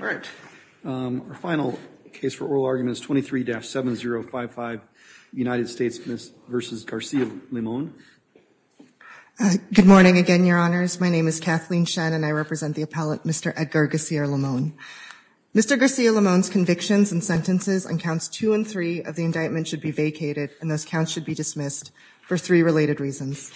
All right. Our final case for oral argument is 23-7055, United States v. Garcia-Limon. Good morning again, Your Honors. My name is Kathleen Shen, and I represent the appellate, Mr. Edgar Garcia-Limon. Mr. Garcia-Limon's convictions and sentences on counts 2 and 3 of the indictment should be vacated, and those counts should be dismissed for three related reasons.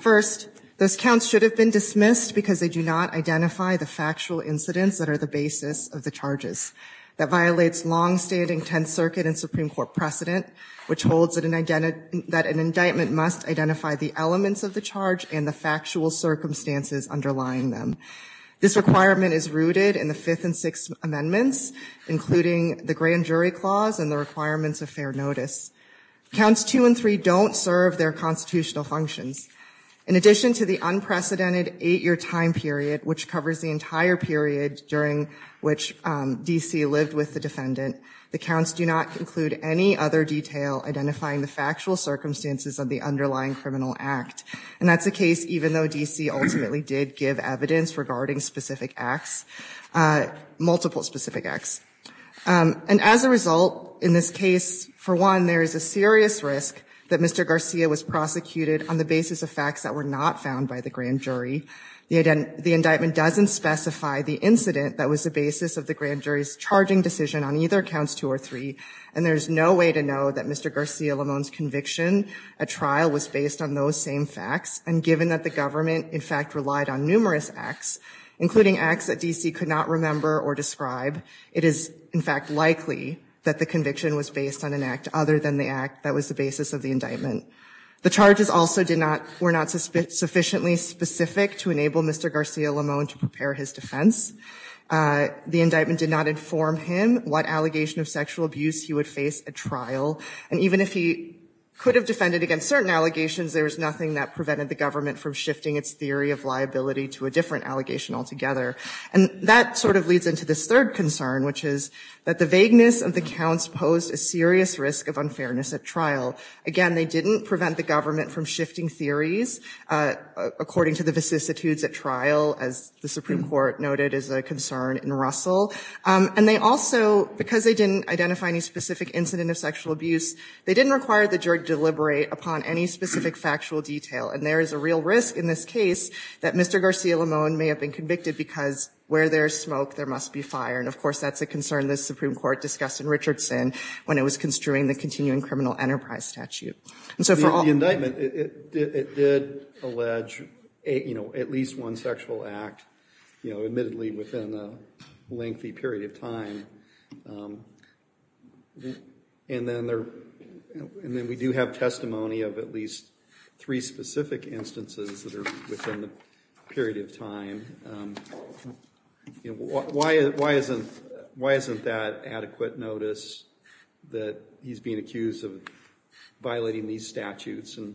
First, those counts should have been dismissed because they do not identify the factual incidents that are the basis of the charges. That violates long-standing Tenth Circuit and Supreme Court precedent, which holds that an indictment must identify the elements of the charge and the factual circumstances underlying them. This requirement is rooted in the Fifth and Sixth Amendments, including the Grand Jury Clause and the requirements of fair notice. Counts 2 and 3 don't serve their constitutional functions. In addition to the unprecedented eight-year time period, which covers the entire period during which D.C. lived with the defendant, the counts do not include any other detail identifying the factual circumstances of the underlying criminal act. And that's the case even though D.C. ultimately did give evidence regarding specific acts, multiple specific acts. And as a result, in this case, for one, there is a serious risk that Mr. Garcia was prosecuted on the basis of facts that were not found by the Grand Jury. The indictment doesn't specify the incident that was the basis of the Grand Jury's charging decision on either counts 2 or 3, and there's no way to know that Mr. Garcia-Limon's conviction at trial was based on those same facts. And given that the government, in fact, relied on numerous acts, including acts that D.C. could not remember or describe, it is, in fact, likely that the conviction was based on an act other than the act that was the basis of the indictment. The charges also were not sufficiently specific to enable Mr. Garcia-Limon to prepare his defense. The indictment did not inform him what allegation of sexual abuse he would face at trial. And even if he could have defended against certain allegations, there was nothing that prevented the government from shifting its theory of liability to a different allegation altogether. And that sort of leads into this third concern, which is that the vagueness of the counts posed a serious risk of unfairness at trial. Again, they didn't prevent the government from shifting theories according to the vicissitudes at trial, as the Supreme Court noted as a concern in Russell. And they also, because they didn't identify any specific incident of sexual abuse, they didn't require the jury to deliberate upon any specific factual detail. And there is a real risk in this case that Mr. Garcia-Limon may have been convicted because where there is smoke, there must be fire. And, of course, that's a concern the Supreme Court discussed in Richardson when it was construing the continuing criminal enterprise statute. The indictment, it did allege at least one sexual act, admittedly within a lengthy period of time. And then we do have testimony of at least three specific instances that are within the period of time. Why isn't that adequate notice that he's being accused of violating these statutes and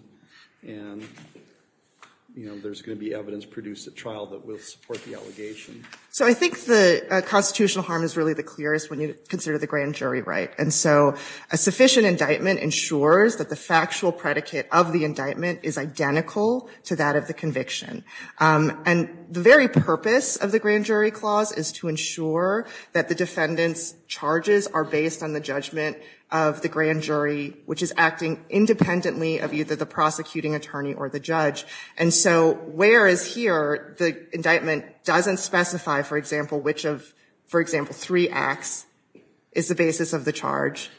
there's going to be evidence produced at trial that will support the allegation? So I think the constitutional harm is really the clearest when you consider the grand jury right. And so a sufficient indictment ensures that the factual predicate of the indictment is identical to that of the conviction. And the very purpose of the grand jury clause is to ensure that the defendant's charges are based on the judgment of the grand jury, which is acting independently of either the prosecuting attorney or the judge. And so whereas here the indictment doesn't specify, for example, which of, for example, three acts is the basis of the charge,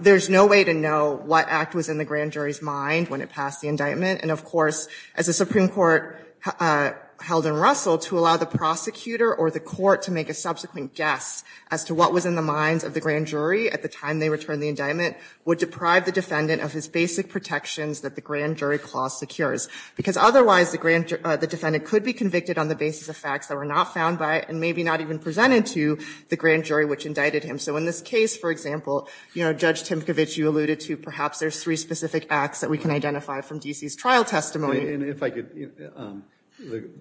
there's no way to know what act was in the grand jury's mind when it passed the indictment. And of course, as the Supreme Court held in Russell, to allow the prosecutor or the court to make a subsequent guess as to what was in the minds of the grand jury at the time they returned the indictment would deprive the defendant of his basic protections that the grand jury clause secures. Because otherwise the defendant could be convicted on the basis of facts that were not found by and maybe not even presented to the grand jury which indicted him. So in this case, for example, Judge Timkovich, you alluded to perhaps there's three specific acts that we can identify from D.C.'s trial testimony. And if I could, the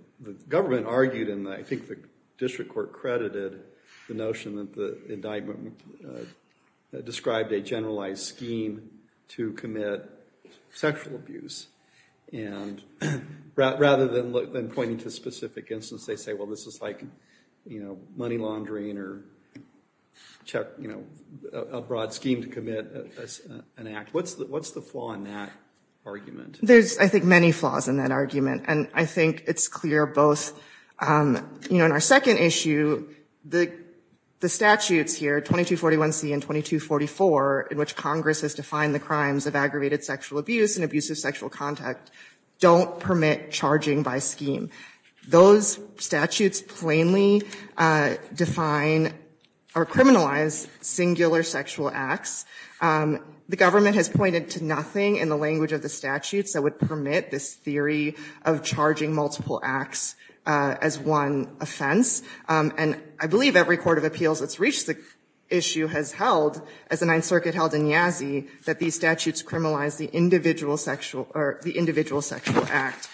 government argued and I think the district court credited the notion that the indictment described a generalized scheme to commit sexual abuse. And rather than pointing to specific instances, they say, well, this is like, you know, money laundering or, you know, a broad scheme to commit an act. What's the flaw in that argument? There's, I think, many flaws in that argument. And I think it's clear both, you know, in our second issue, the statutes here, 2241C and 2244, in which Congress has defined the crimes of aggravated sexual abuse and abusive sexual contact, don't permit charging by scheme. Those statutes plainly define or criminalize singular sexual acts. The government has pointed to nothing in the language of the statutes that would permit this theory of charging multiple acts as one offense. And I believe every court of appeals that's reached the issue has held, as the Ninth Circuit held in Yazzie, that these statutes criminalize the individual sexual or the individual sexual act.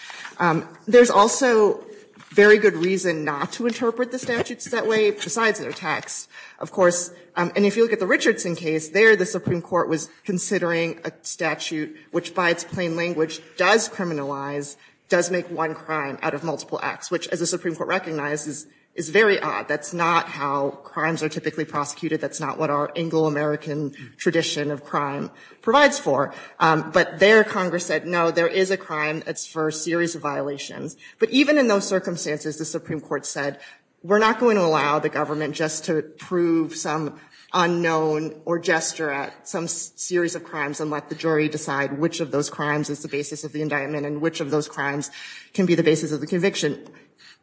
There's also very good reason not to interpret the statutes that way, besides their text. Of course, and if you look at the Richardson case, there the Supreme Court was considering a statute which, by its plain language, does criminalize, does make one crime out of multiple acts, which, as the Supreme Court recognizes, is very odd. That's not how crimes are typically prosecuted. That's not what our Anglo-American tradition of crime provides for. But there, Congress said, no, there is a crime. It's for a series of violations. But even in those circumstances, the Supreme Court said, we're not going to allow the government just to prove some unknown or gesture at some series of crimes and let the jury decide which of those crimes is the basis of the indictment and which of those crimes can be the basis of the conviction.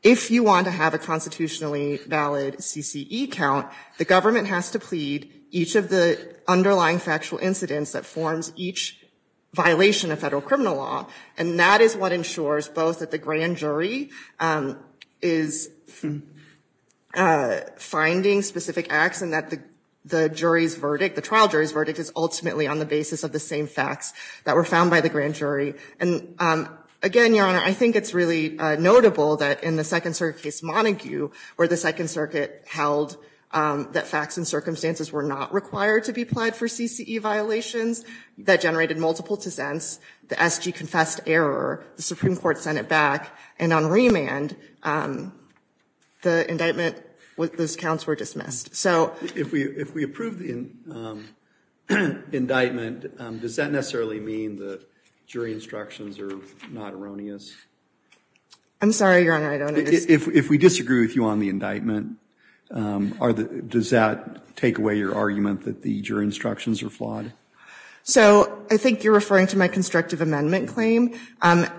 If you want to have a constitutionally valid CCE count, the government has to plead each of the underlying factual incidents that forms each violation of federal criminal law. And that is what ensures both that the grand jury is finding specific acts and that the jury's verdict, the trial jury's verdict, is ultimately on the basis of the same facts that were found by the grand jury. And again, Your Honor, I think it's really notable that in the Second Circuit case Montague, where the Second Circuit held that facts and circumstances were not required to be applied for CCE violations, that generated multiple dissents. The SG confessed error. The Supreme Court sent it back. And on remand, the indictment, those counts were dismissed. So if we approve the indictment, does that necessarily mean the jury instructions are not erroneous? I'm sorry, Your Honor, I don't understand. If we disagree with you on the indictment, does that take away your argument that the jury instructions are flawed? So I think you're referring to my constructive amendment claim. And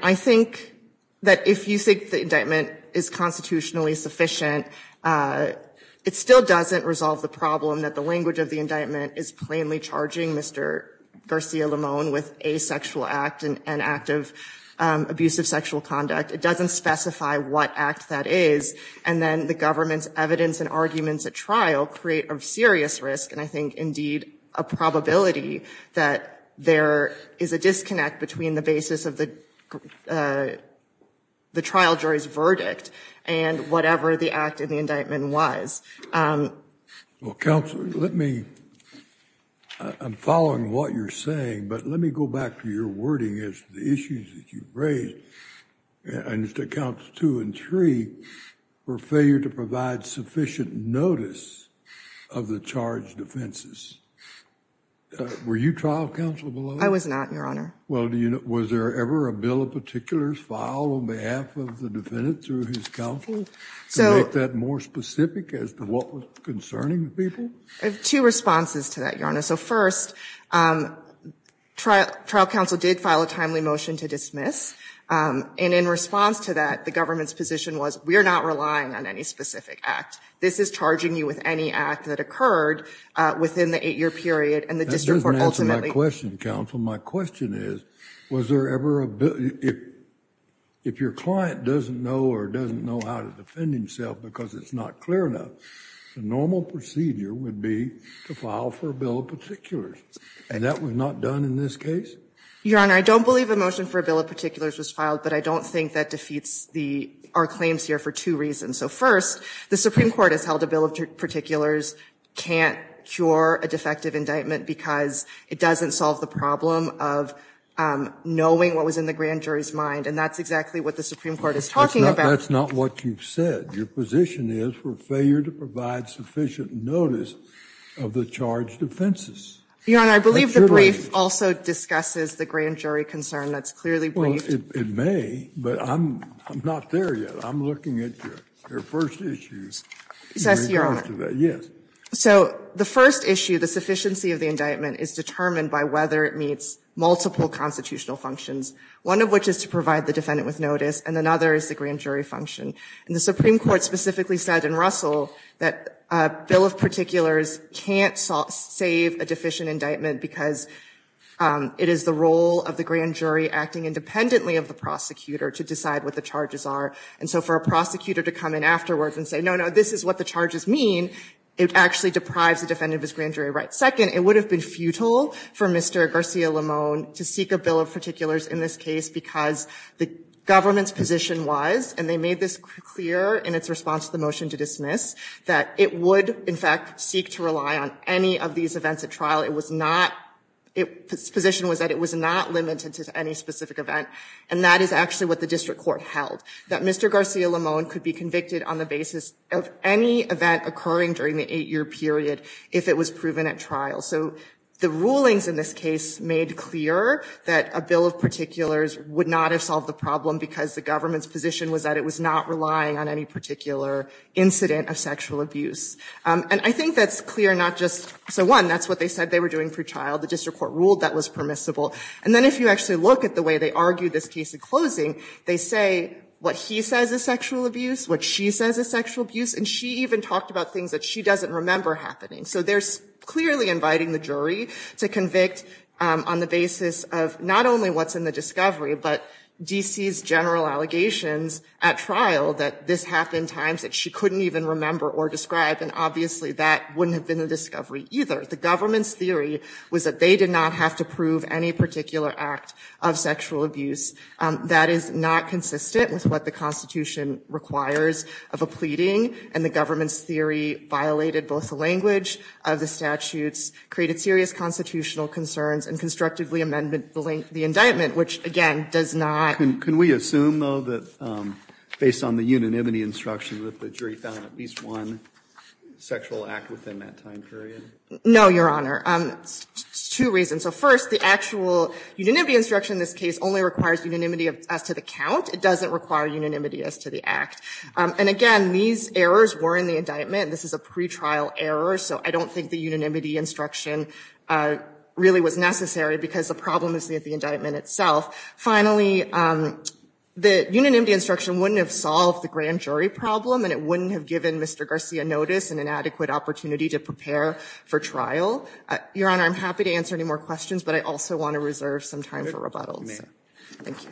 I think that if you think the indictment is constitutionally sufficient, it still doesn't resolve the problem that the language of the indictment is plainly charging Mr. Garcia-Limon with a sexual act, an act of abusive sexual conduct. It doesn't specify what act that is. And then the government's evidence and arguments at trial create a serious risk, and I think, indeed, a probability that there is a disconnect between the basis of the trial jury's verdict and whatever the act in the indictment was. Well, counsel, let me, I'm following what you're saying, but let me go back to your wording as to the issues that you've raised. I understand counts two and three were failure to provide sufficient notice of the charged offenses. Were you trial counsel below that? I was not, Your Honor. Well, was there ever a bill of particulars filed on behalf of the defendant through his counsel to make that more specific as to what was concerning the people? I have two responses to that, Your Honor. So, first, trial counsel did file a timely motion to dismiss, and in response to that, the government's position was, we are not relying on any specific act. This is charging you with any act that occurred within the eight-year period, and the district court ultimately That doesn't answer my question, counsel. My question is, was there ever a bill, if your client doesn't know or doesn't know how to defend himself because it's not clear enough, the normal procedure would be to file for a bill of particulars, and that was not done in this case? Your Honor, I don't believe a motion for a bill of particulars was filed, but I don't think that defeats our claims here for two reasons. So, first, the Supreme Court has held a bill of particulars can't cure a defective indictment because it doesn't solve the problem of knowing what was in the grand jury's mind, and that's exactly what the Supreme Court is talking about. That's not what you've said. Your position is for failure to provide sufficient notice of the charged offenses. Your Honor, I believe the brief also discusses the grand jury concern. That's clearly briefed. Well, it may, but I'm not there yet. I'm looking at your first issues. So, the first issue, the sufficiency of the indictment, is determined by whether it meets multiple constitutional functions, one of which is to provide the defendant with notice, and another is the grand jury function. And the Supreme Court specifically said in Russell that a bill of particulars can't save a deficient indictment because it is the role of the grand jury acting independently of the prosecutor to decide what the charges are. And so for a prosecutor to come in afterwards and say, no, no, this is what the charges mean, it actually deprives the defendant of his grand jury rights. Second, it would have been futile for Mr. Garcia-Limon to seek a bill of particulars in this case because the government's position was, and they made this clear in its response to the motion to dismiss, that it would, in fact, seek to rely on any of these events at trial. It was not, its position was that it was not limited to any specific event. And that is actually what the district court held, that Mr. Garcia-Limon could be convicted on the basis of any event occurring during the eight-year period if it was proven at trial. So the rulings in this case made clear that a bill of particulars would not have solved the problem because the government's position was that it was not relying on any particular incident of sexual abuse. And I think that's clear not just, so one, that's what they said they were doing for trial. The district court ruled that was permissible. And then if you actually look at the way they argued this case in closing, they say what he says is sexual abuse, what she says is sexual abuse, and she even talked about things that she doesn't remember happening. So they're clearly inviting the jury to convict on the basis of not only what's in the discovery, but D.C.'s general allegations at trial that this happened times that she couldn't even remember or describe, and obviously that wouldn't have been a discovery either. The government's theory was that they did not have to prove any particular act of sexual abuse. That is not consistent with what the Constitution requires of a pleading, and the government's theory violated both the language of the statutes, created serious constitutional concerns, and constructively amended the indictment, which, again, does not. Can we assume, though, that based on the unanimity instruction that the jury found at least one sexual act within that time period? No, Your Honor. Two reasons. So first, the actual unanimity instruction in this case only requires unanimity as to the count. It doesn't require unanimity as to the act. And again, these errors were in the indictment. This is a pretrial error, so I don't think the unanimity instruction really was necessary because the problem is with the indictment itself. Finally, the unanimity instruction wouldn't have solved the grand jury problem, and it wouldn't have given Mr. Garcia notice and an adequate opportunity to prepare for trial. Your Honor, I'm happy to answer any more questions, but I also want to reserve some time for rebuttals. Thank you.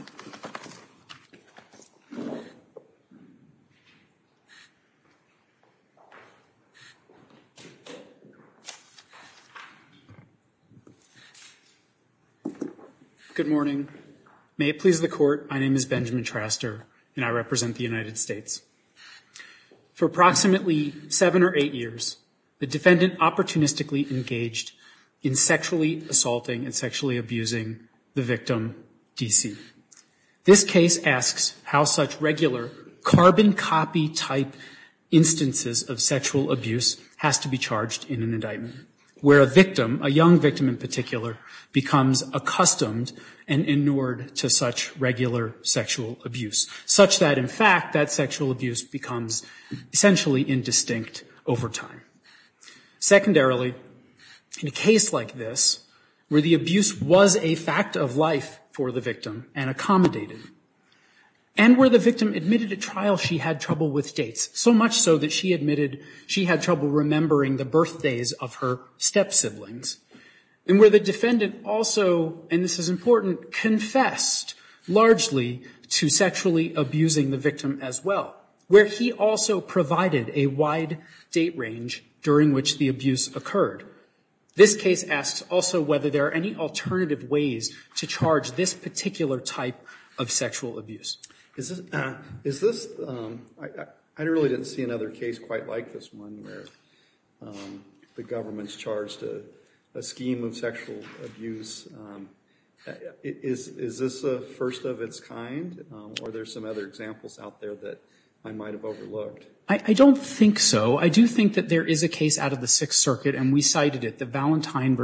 Good morning. May it please the Court. My name is Benjamin Traster, and I represent the United States. For approximately seven or eight years, the defendant opportunistically engaged in sexually assaulting and sexually abusing the victim, D.C. This case asks how such regular carbon copy type instances of sexual abuse has to be charged in an indictment, where a victim, a young victim in particular, becomes accustomed and inured to such regular sexual abuse, such that, in fact, that sexual abuse becomes essentially indistinct over time. Secondarily, in a case like this, where the abuse was a fact of life for the victim and accommodated, and where the victim admitted at trial she had trouble with dates, so much so that she admitted she had trouble remembering the birthdays of her step siblings, and where the defendant also, and this is important, confessed largely to sexually abusing the victim as well, where he also provided a wide date range during which the abuse occurred. This case asks also whether there are any alternative ways to charge this particular type of sexual abuse. Is this, is this, I really didn't see another case quite like this one where the government's charged a scheme of sexual abuse. Is this a first of its kind, or are there some other examples out there that I might have overlooked? I don't think so. I do think that there is a case out of the Sixth Circuit, and we cited it, the Valentine v.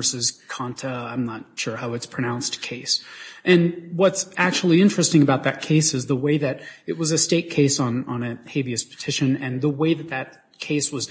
Conta, I'm not sure how it's pronounced, case. And what's actually interesting about that case is the way that it was a state case on a habeas petition, and the way that that case was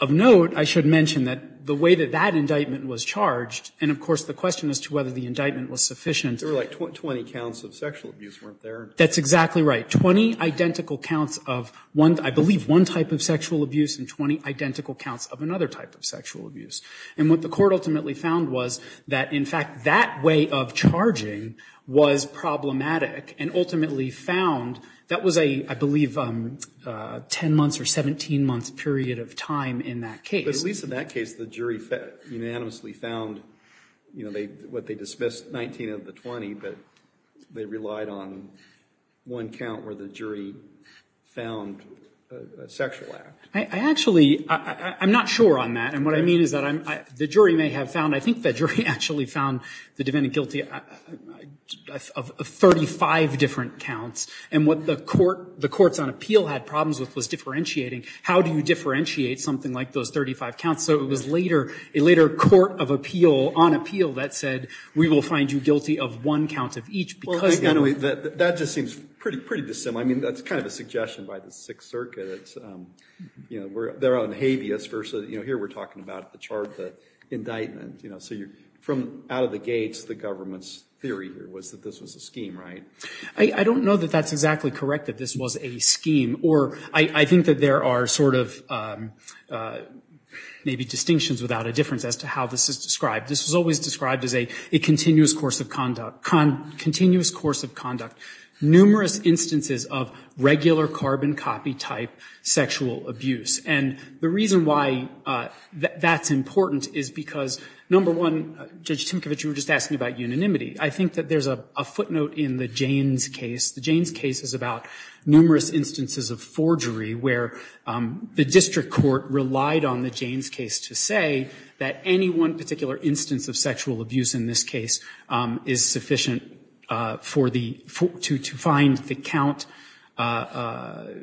of note, I should mention that the way that that indictment was charged, and of course the question as to whether the indictment was sufficient. There were like 20 counts of sexual abuse weren't there. That's exactly right. Twenty identical counts of one, I believe one type of sexual abuse, and 20 identical counts of another type of sexual abuse. And what the Court ultimately found was that in fact that way of charging was problematic and ultimately found, that was a, I believe, 10 months or 17 months period of time in that case. But at least in that case the jury unanimously found, you know, what they dismissed, 19 of the 20, but they relied on one count where the jury found a sexual act. I actually, I'm not sure on that. And what I mean is that the jury may have found, I think the jury actually found the defendant guilty of 35 different counts. And what the court, the courts on appeal had problems with was differentiating how do you differentiate something like those 35 counts. So it was later, a later court of appeal, on appeal that said we will find you guilty of one count of each because. That just seems pretty dissimilar. I mean that's kind of a suggestion by the Sixth Circuit. It's, you know, they're on habeas versus, you know, here we're talking about the charge, the indictment, you know, so you're from out of the gates, the government's theory here was that this was a scheme, right? I don't know that that's exactly correct, that this was a scheme. Or I think that there are sort of maybe distinctions without a difference as to how this is described. This was always described as a continuous course of conduct, numerous instances of regular carbon copy type sexual abuse. And the reason why that's important is because, number one, Judge Timkevich, you were just asking about unanimity. I think that there's a footnote in the Jaynes case. The Jaynes case is about numerous instances of forgery where the district court relied on the Jaynes case to say that any one particular instance of sexual abuse in this case is sufficient for the, to find the count, to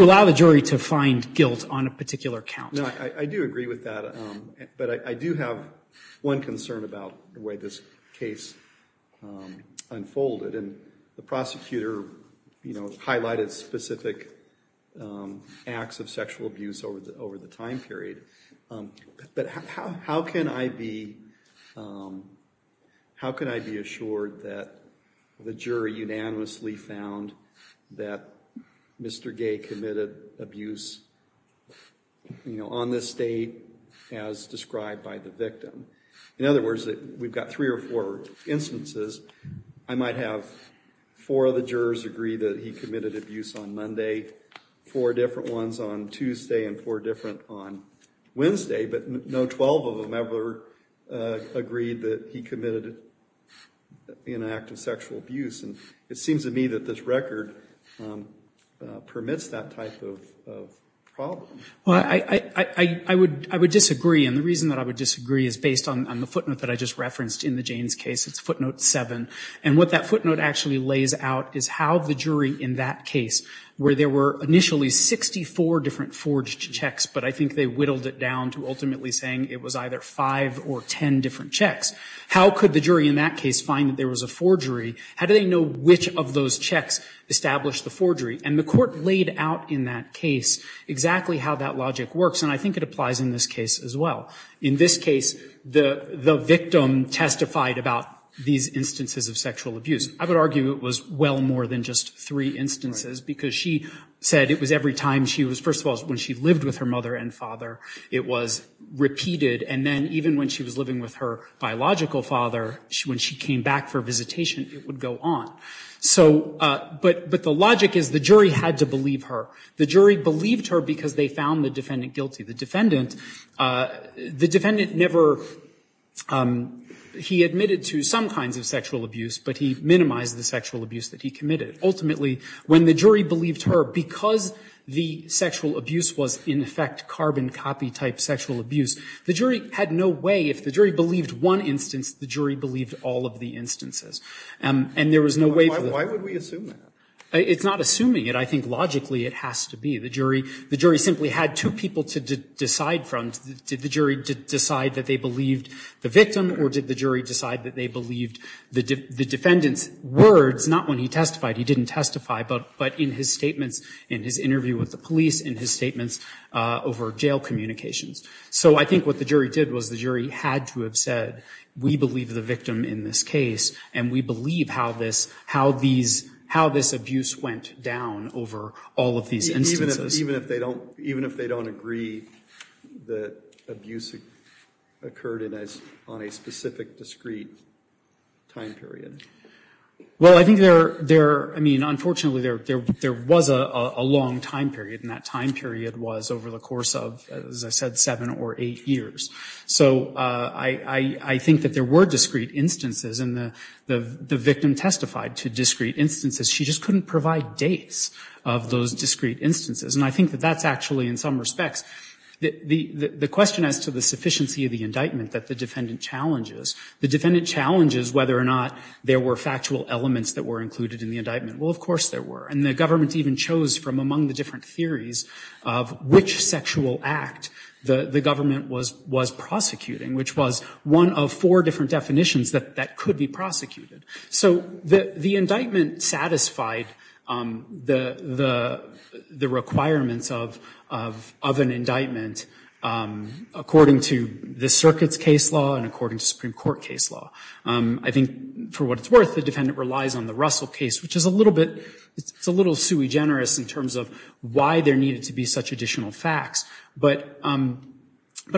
allow the jury to find guilt on a particular count. I do agree with that, but I do have one concern about the way this case unfolded. And the prosecutor highlighted specific acts of sexual abuse over the time period. But how can I be assured that the jury unanimously found that Mr. Gay committed abuse on this date as described by the victim? In other words, we've got three or four instances. I might have four of the jurors agree that he committed abuse on Monday, four different ones on Tuesday, and four different on Wednesday. But no 12 of them ever agreed that he committed an act of sexual abuse. And it seems to me that this record permits that type of problem. Well, I would disagree, and the reason that I would disagree is based on the footnote that I just referenced in the Jaynes case. It's footnote 7. And what that footnote actually lays out is how the jury in that case, where there were initially 64 different forged checks, but I think they whittled it down to ultimately saying it was either 5 or 10 different checks. How could the jury in that case find that there was a forgery? How do they know which of those checks established the forgery? And the court laid out in that case exactly how that logic works, and I think it applies in this case as well. In this case, the victim testified about these instances of sexual abuse. I would argue it was well more than just three instances, because she said it was every time she was, first of all, when she lived with her mother and father, it was repeated. And then even when she was living with her biological father, when she came back for visitation, it would go on. So, but the logic is the jury had to believe her. The jury believed her because they found the defendant guilty. The defendant never, he admitted to some kinds of sexual abuse, but he minimized the sexual abuse that he committed. Ultimately, when the jury believed her, because the sexual abuse was, in effect, carbon copy type sexual abuse, the jury had no way, if the jury believed one instance, the jury believed all of the instances. And there was no way for the other. Why would we assume that? It's not assuming it. I think logically it has to be. The jury simply had two people to decide from. Did the jury decide that they believed the victim, or did the jury decide that they believed the defendant's words, not when he testified, he didn't testify, but in his statements, in his interview with the police, in his statements over jail communications. So I think what the jury did was the jury had to have said, we believe the victim in this case, and we believe how this abuse went down over all of these instances. Even if they don't agree that abuse occurred on a specific, discreet time period? Well, I think there, I mean, unfortunately, there was a long time period, and that time period was over the course of, as I said, seven or eight years. So I think that there were discreet instances, and the victim testified to discreet instances. She just couldn't provide dates of those discreet instances. And I think that that's actually, in some respects, the question as to the sufficiency of the indictment that the defendant challenges. The defendant challenges whether or not there were factual elements that were included in the indictment. Well, of course there were. And the government even chose from among the different theories of which sexual act the government was prosecuting, which was one of four different definitions that could be prosecuted. So the indictment satisfied the requirements of an indictment according to the circuit's case law and according to Supreme Court case law. I think, for what it's worth, the defendant relies on the Russell case, which is a little sui generis in terms of why there needed to be such additional facts. But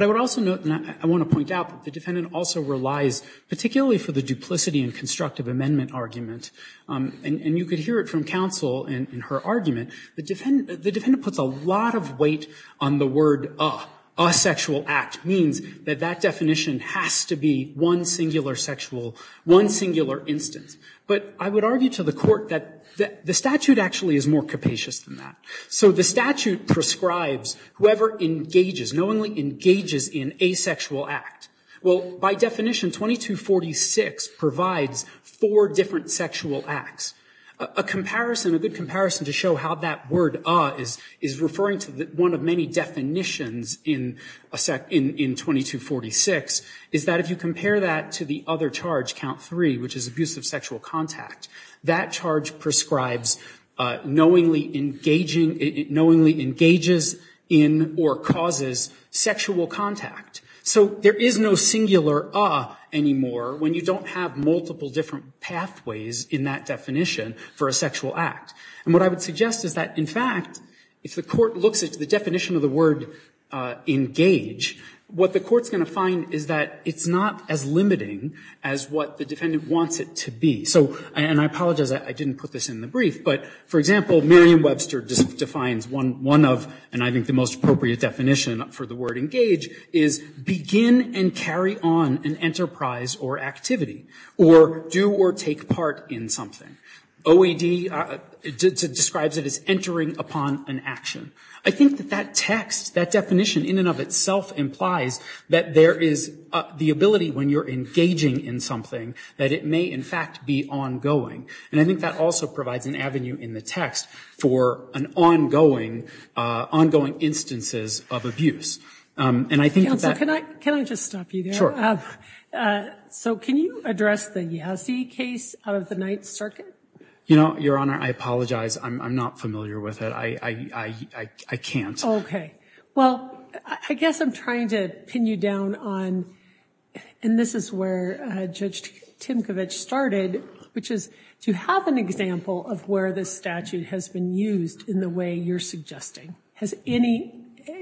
I would also note, and I want to point out, the defendant also relies particularly for the duplicity and constructive amendment argument. And you could hear it from counsel in her argument. The defendant puts a lot of weight on the word a, a sexual act means that that definition has to be one singular sexual, one singular instance. But I would argue to the Court that the statute actually is more capacious than that. So the statute prescribes whoever engages, knowingly engages in a sexual act. Well, by definition, 2246 provides four different sexual acts. A comparison, a good comparison to show how that word a is referring to one of many definitions in 2246 is that if you compare that to the other charge, count 3, which is abuse of sexual contact, that charge prescribes knowingly engaging, knowingly engages in or causes sexual contact. So there is no singular a anymore when you don't have multiple different pathways in that definition for a sexual act. And what I would suggest is that, in fact, if the Court looks at the definition of the word engage, what the Court's going to find is that it's not as limiting as what the defendant wants it to be. So, and I apologize, I didn't put this in the brief, but, for example, Merriam-Webster defines one of, and I think the most appropriate definition for the word engage is begin and carry on an enterprise or activity, or do or take part in something. OED describes it as entering upon an action. I think that that text, that definition in and of itself implies that there is the need for engaging in something, that it may, in fact, be ongoing. And I think that also provides an avenue in the text for an ongoing, ongoing instances of abuse. And I think that... Counsel, can I just stop you there? Sure. So can you address the Yassi case of the Ninth Circuit? You know, Your Honor, I apologize, I'm not familiar with it. I can't. Okay. Well, I guess I'm trying to pin you down on, and this is where Judge Timkovich started, which is to have an example of where this statute has been used in the way you're suggesting. Has any,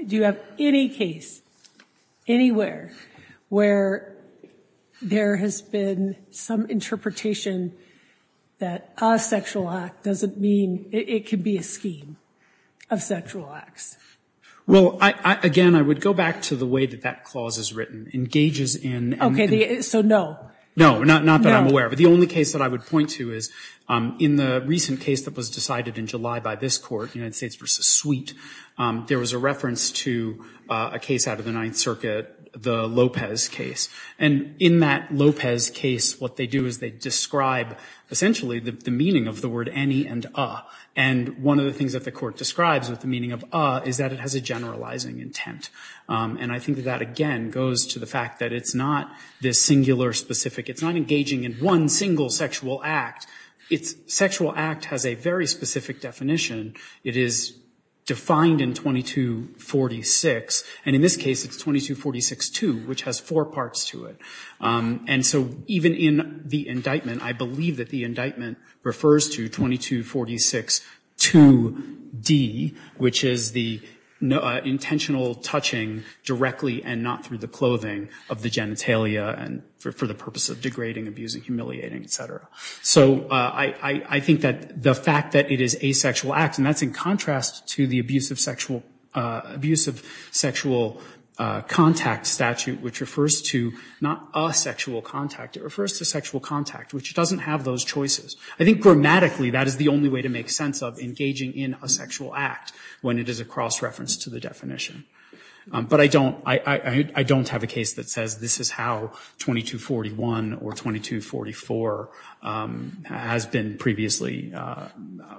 do you have any case, anywhere, where there has been some interpretation that a sexual act doesn't mean it can be a scheme of sexual acts? Well, again, I would go back to the way that that clause is written, engages in... Okay, so no. No, not that I'm aware of. No. But the only case that I would point to is in the recent case that was decided in July by this Court, United States v. Sweet, there was a reference to a case out of the Ninth Circuit, the Lopez case. And in that Lopez case, what they do is they describe essentially the meaning of the word any and a. And one of the things that the Court describes with the meaning of a is that it has a generalizing intent. And I think that that, again, goes to the fact that it's not this singular, specific, it's not engaging in one single sexual act. Its sexual act has a very specific definition. It is defined in 2246, and in this case, it's 2246-2, which has four parts to it. And so even in the indictment, I believe that the indictment refers to 2246-2D, which is the intentional touching directly and not through the clothing of the genitalia and for the purpose of degrading, abusing, humiliating, et cetera. So I think that the fact that it is a sexual act, and that's in contrast to the abusive sexual contact statute, which refers to not a sexual contact. It refers to sexual contact, which doesn't have those choices. I think grammatically that is the only way to make sense of engaging in a sexual act when it is a cross-reference to the definition. But I don't have a case that says this is how 2241 or 2244 has been previously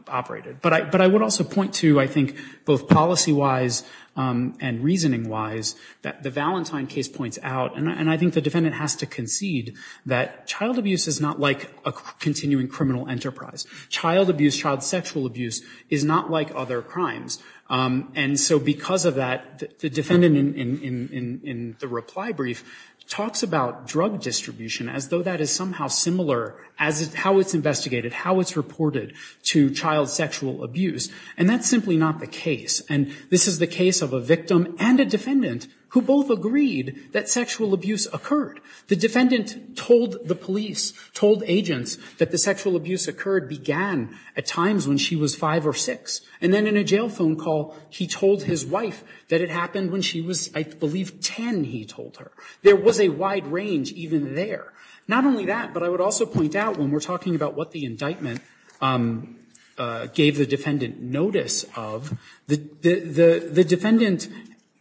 operated. But I would also point to, I think, both policy-wise and reasoning-wise, that the Valentine case points out, and I think the defendant has to concede, that child abuse is not like a continuing criminal enterprise. Child abuse, child sexual abuse, is not like other crimes. And so because of that, the defendant in the reply brief talks about drug distribution as though that is somehow similar as how it's investigated, how it's reported to child sexual abuse. And that's simply not the case. And this is the case of a victim and a defendant who both agreed that sexual abuse occurred. The defendant told the police, told agents, that the sexual abuse occurred, began at times when she was 5 or 6. And then in a jail phone call, he told his wife that it happened when she was, I believe, 10, he told her. There was a wide range even there. Not only that, but I would also point out when we're talking about what the indictment gave the defendant notice of, the defendant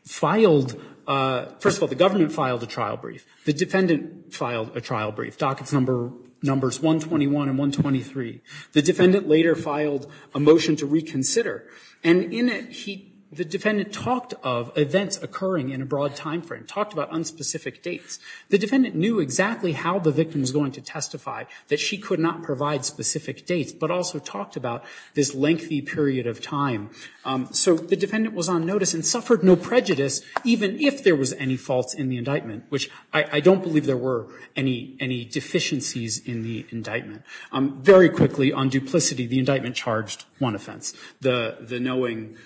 filed, first of all, the government filed a trial brief. The defendant filed a trial brief. Dockets numbers 121 and 123. The defendant later filed a motion to reconsider. And in it, the defendant talked of events occurring in a broad time frame, talked about unspecific dates. The defendant knew exactly how the victim was going to testify, that she could not provide specific dates, but also talked about this lengthy period of time. So the defendant was on notice and suffered no prejudice, even if there was any faults in the indictment, which I don't believe there were any deficiencies in the indictment. Very quickly, on duplicity, the indictment charged one offense, the knowing,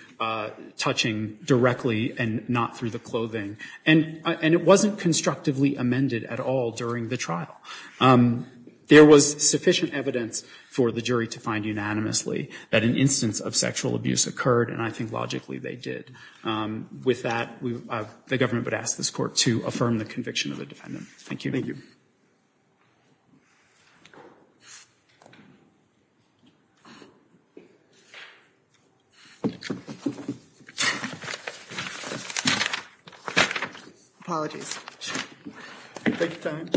touching directly and not through the clothing. And it wasn't constructively amended at all during the trial. There was sufficient evidence for the jury to find unanimously that an instance of sexual abuse occurred, and I think logically they did. With that, the government would ask this Court to affirm the conviction of the defendant. Thank you. Thank you. Apologies. Take your time.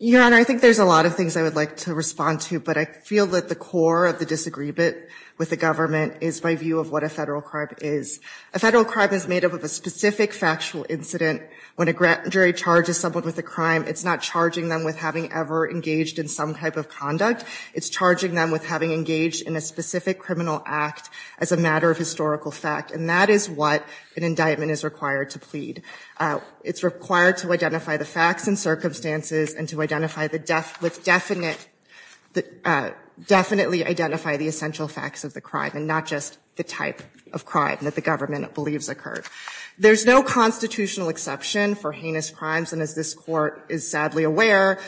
Your Honor, I think there's a lot of things I would like to respond to, but I feel that the core of the disagreement with the government is my view of what a federal crime is. A federal crime is made up of a specific factual incident. When a jury charges someone with a crime, it's not charging them with having ever engaged in some type of conduct. It's charging them with having engaged in a specific criminal act as a matter of historical fact, and that is what an indictment is required to plead. It's required to identify the facts and circumstances and to identify the essential facts of the crime and not just the type of crime that the government believes occurred. There's no constitutional exception for heinous crimes, and as this Court is sadly aware,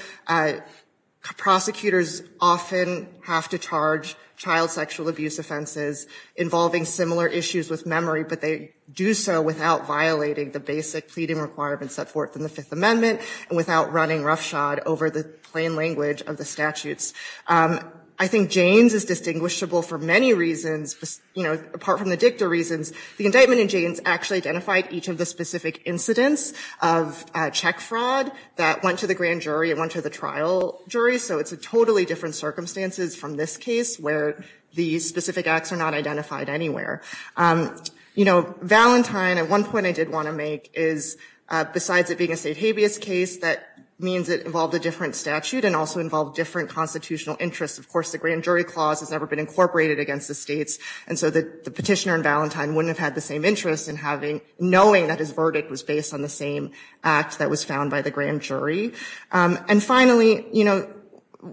prosecutors often have to charge child sexual abuse offenses involving similar issues with memory, but they do so without violating the basic pleading requirements set forth in the Fifth Amendment and without running roughshod over the plain language of the statutes. I think Jaynes is distinguishable for many reasons. You know, apart from the dicta reasons, the indictment in Jaynes actually identified each of the specific incidents of check fraud that went to the grand jury and went to the trial jury, so it's a totally different circumstances from this case where the specific acts are not identified anywhere. You know, Valentine, at one point I did want to make, is besides it being a different statute and also involved different constitutional interests, of course, the grand jury clause has never been incorporated against the states, and so the petitioner in Valentine wouldn't have had the same interest in knowing that his verdict was based on the same act that was found by the grand jury. And finally, you know,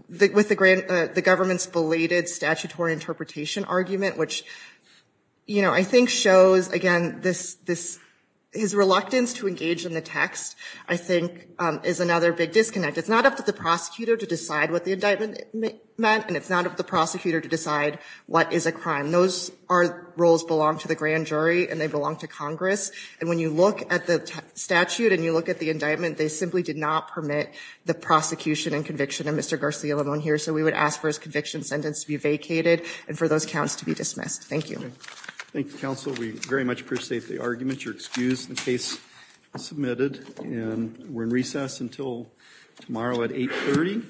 with the government's belated statutory interpretation argument, which, you know, I think shows, again, his reluctance to engage in the text, I think, is another big disconnect. It's not up to the prosecutor to decide what the indictment meant, and it's not up to the prosecutor to decide what is a crime. Those roles belong to the grand jury and they belong to Congress, and when you look at the statute and you look at the indictment, they simply did not permit the prosecution and conviction of Mr. Garcia-Lemon here, so we would ask for his conviction sentence to be vacated and for those counts to be dismissed. Thank you. Thank you, counsel. We very much appreciate the argument. You're excused. The case is submitted. And we're in recess until tomorrow at 8.30.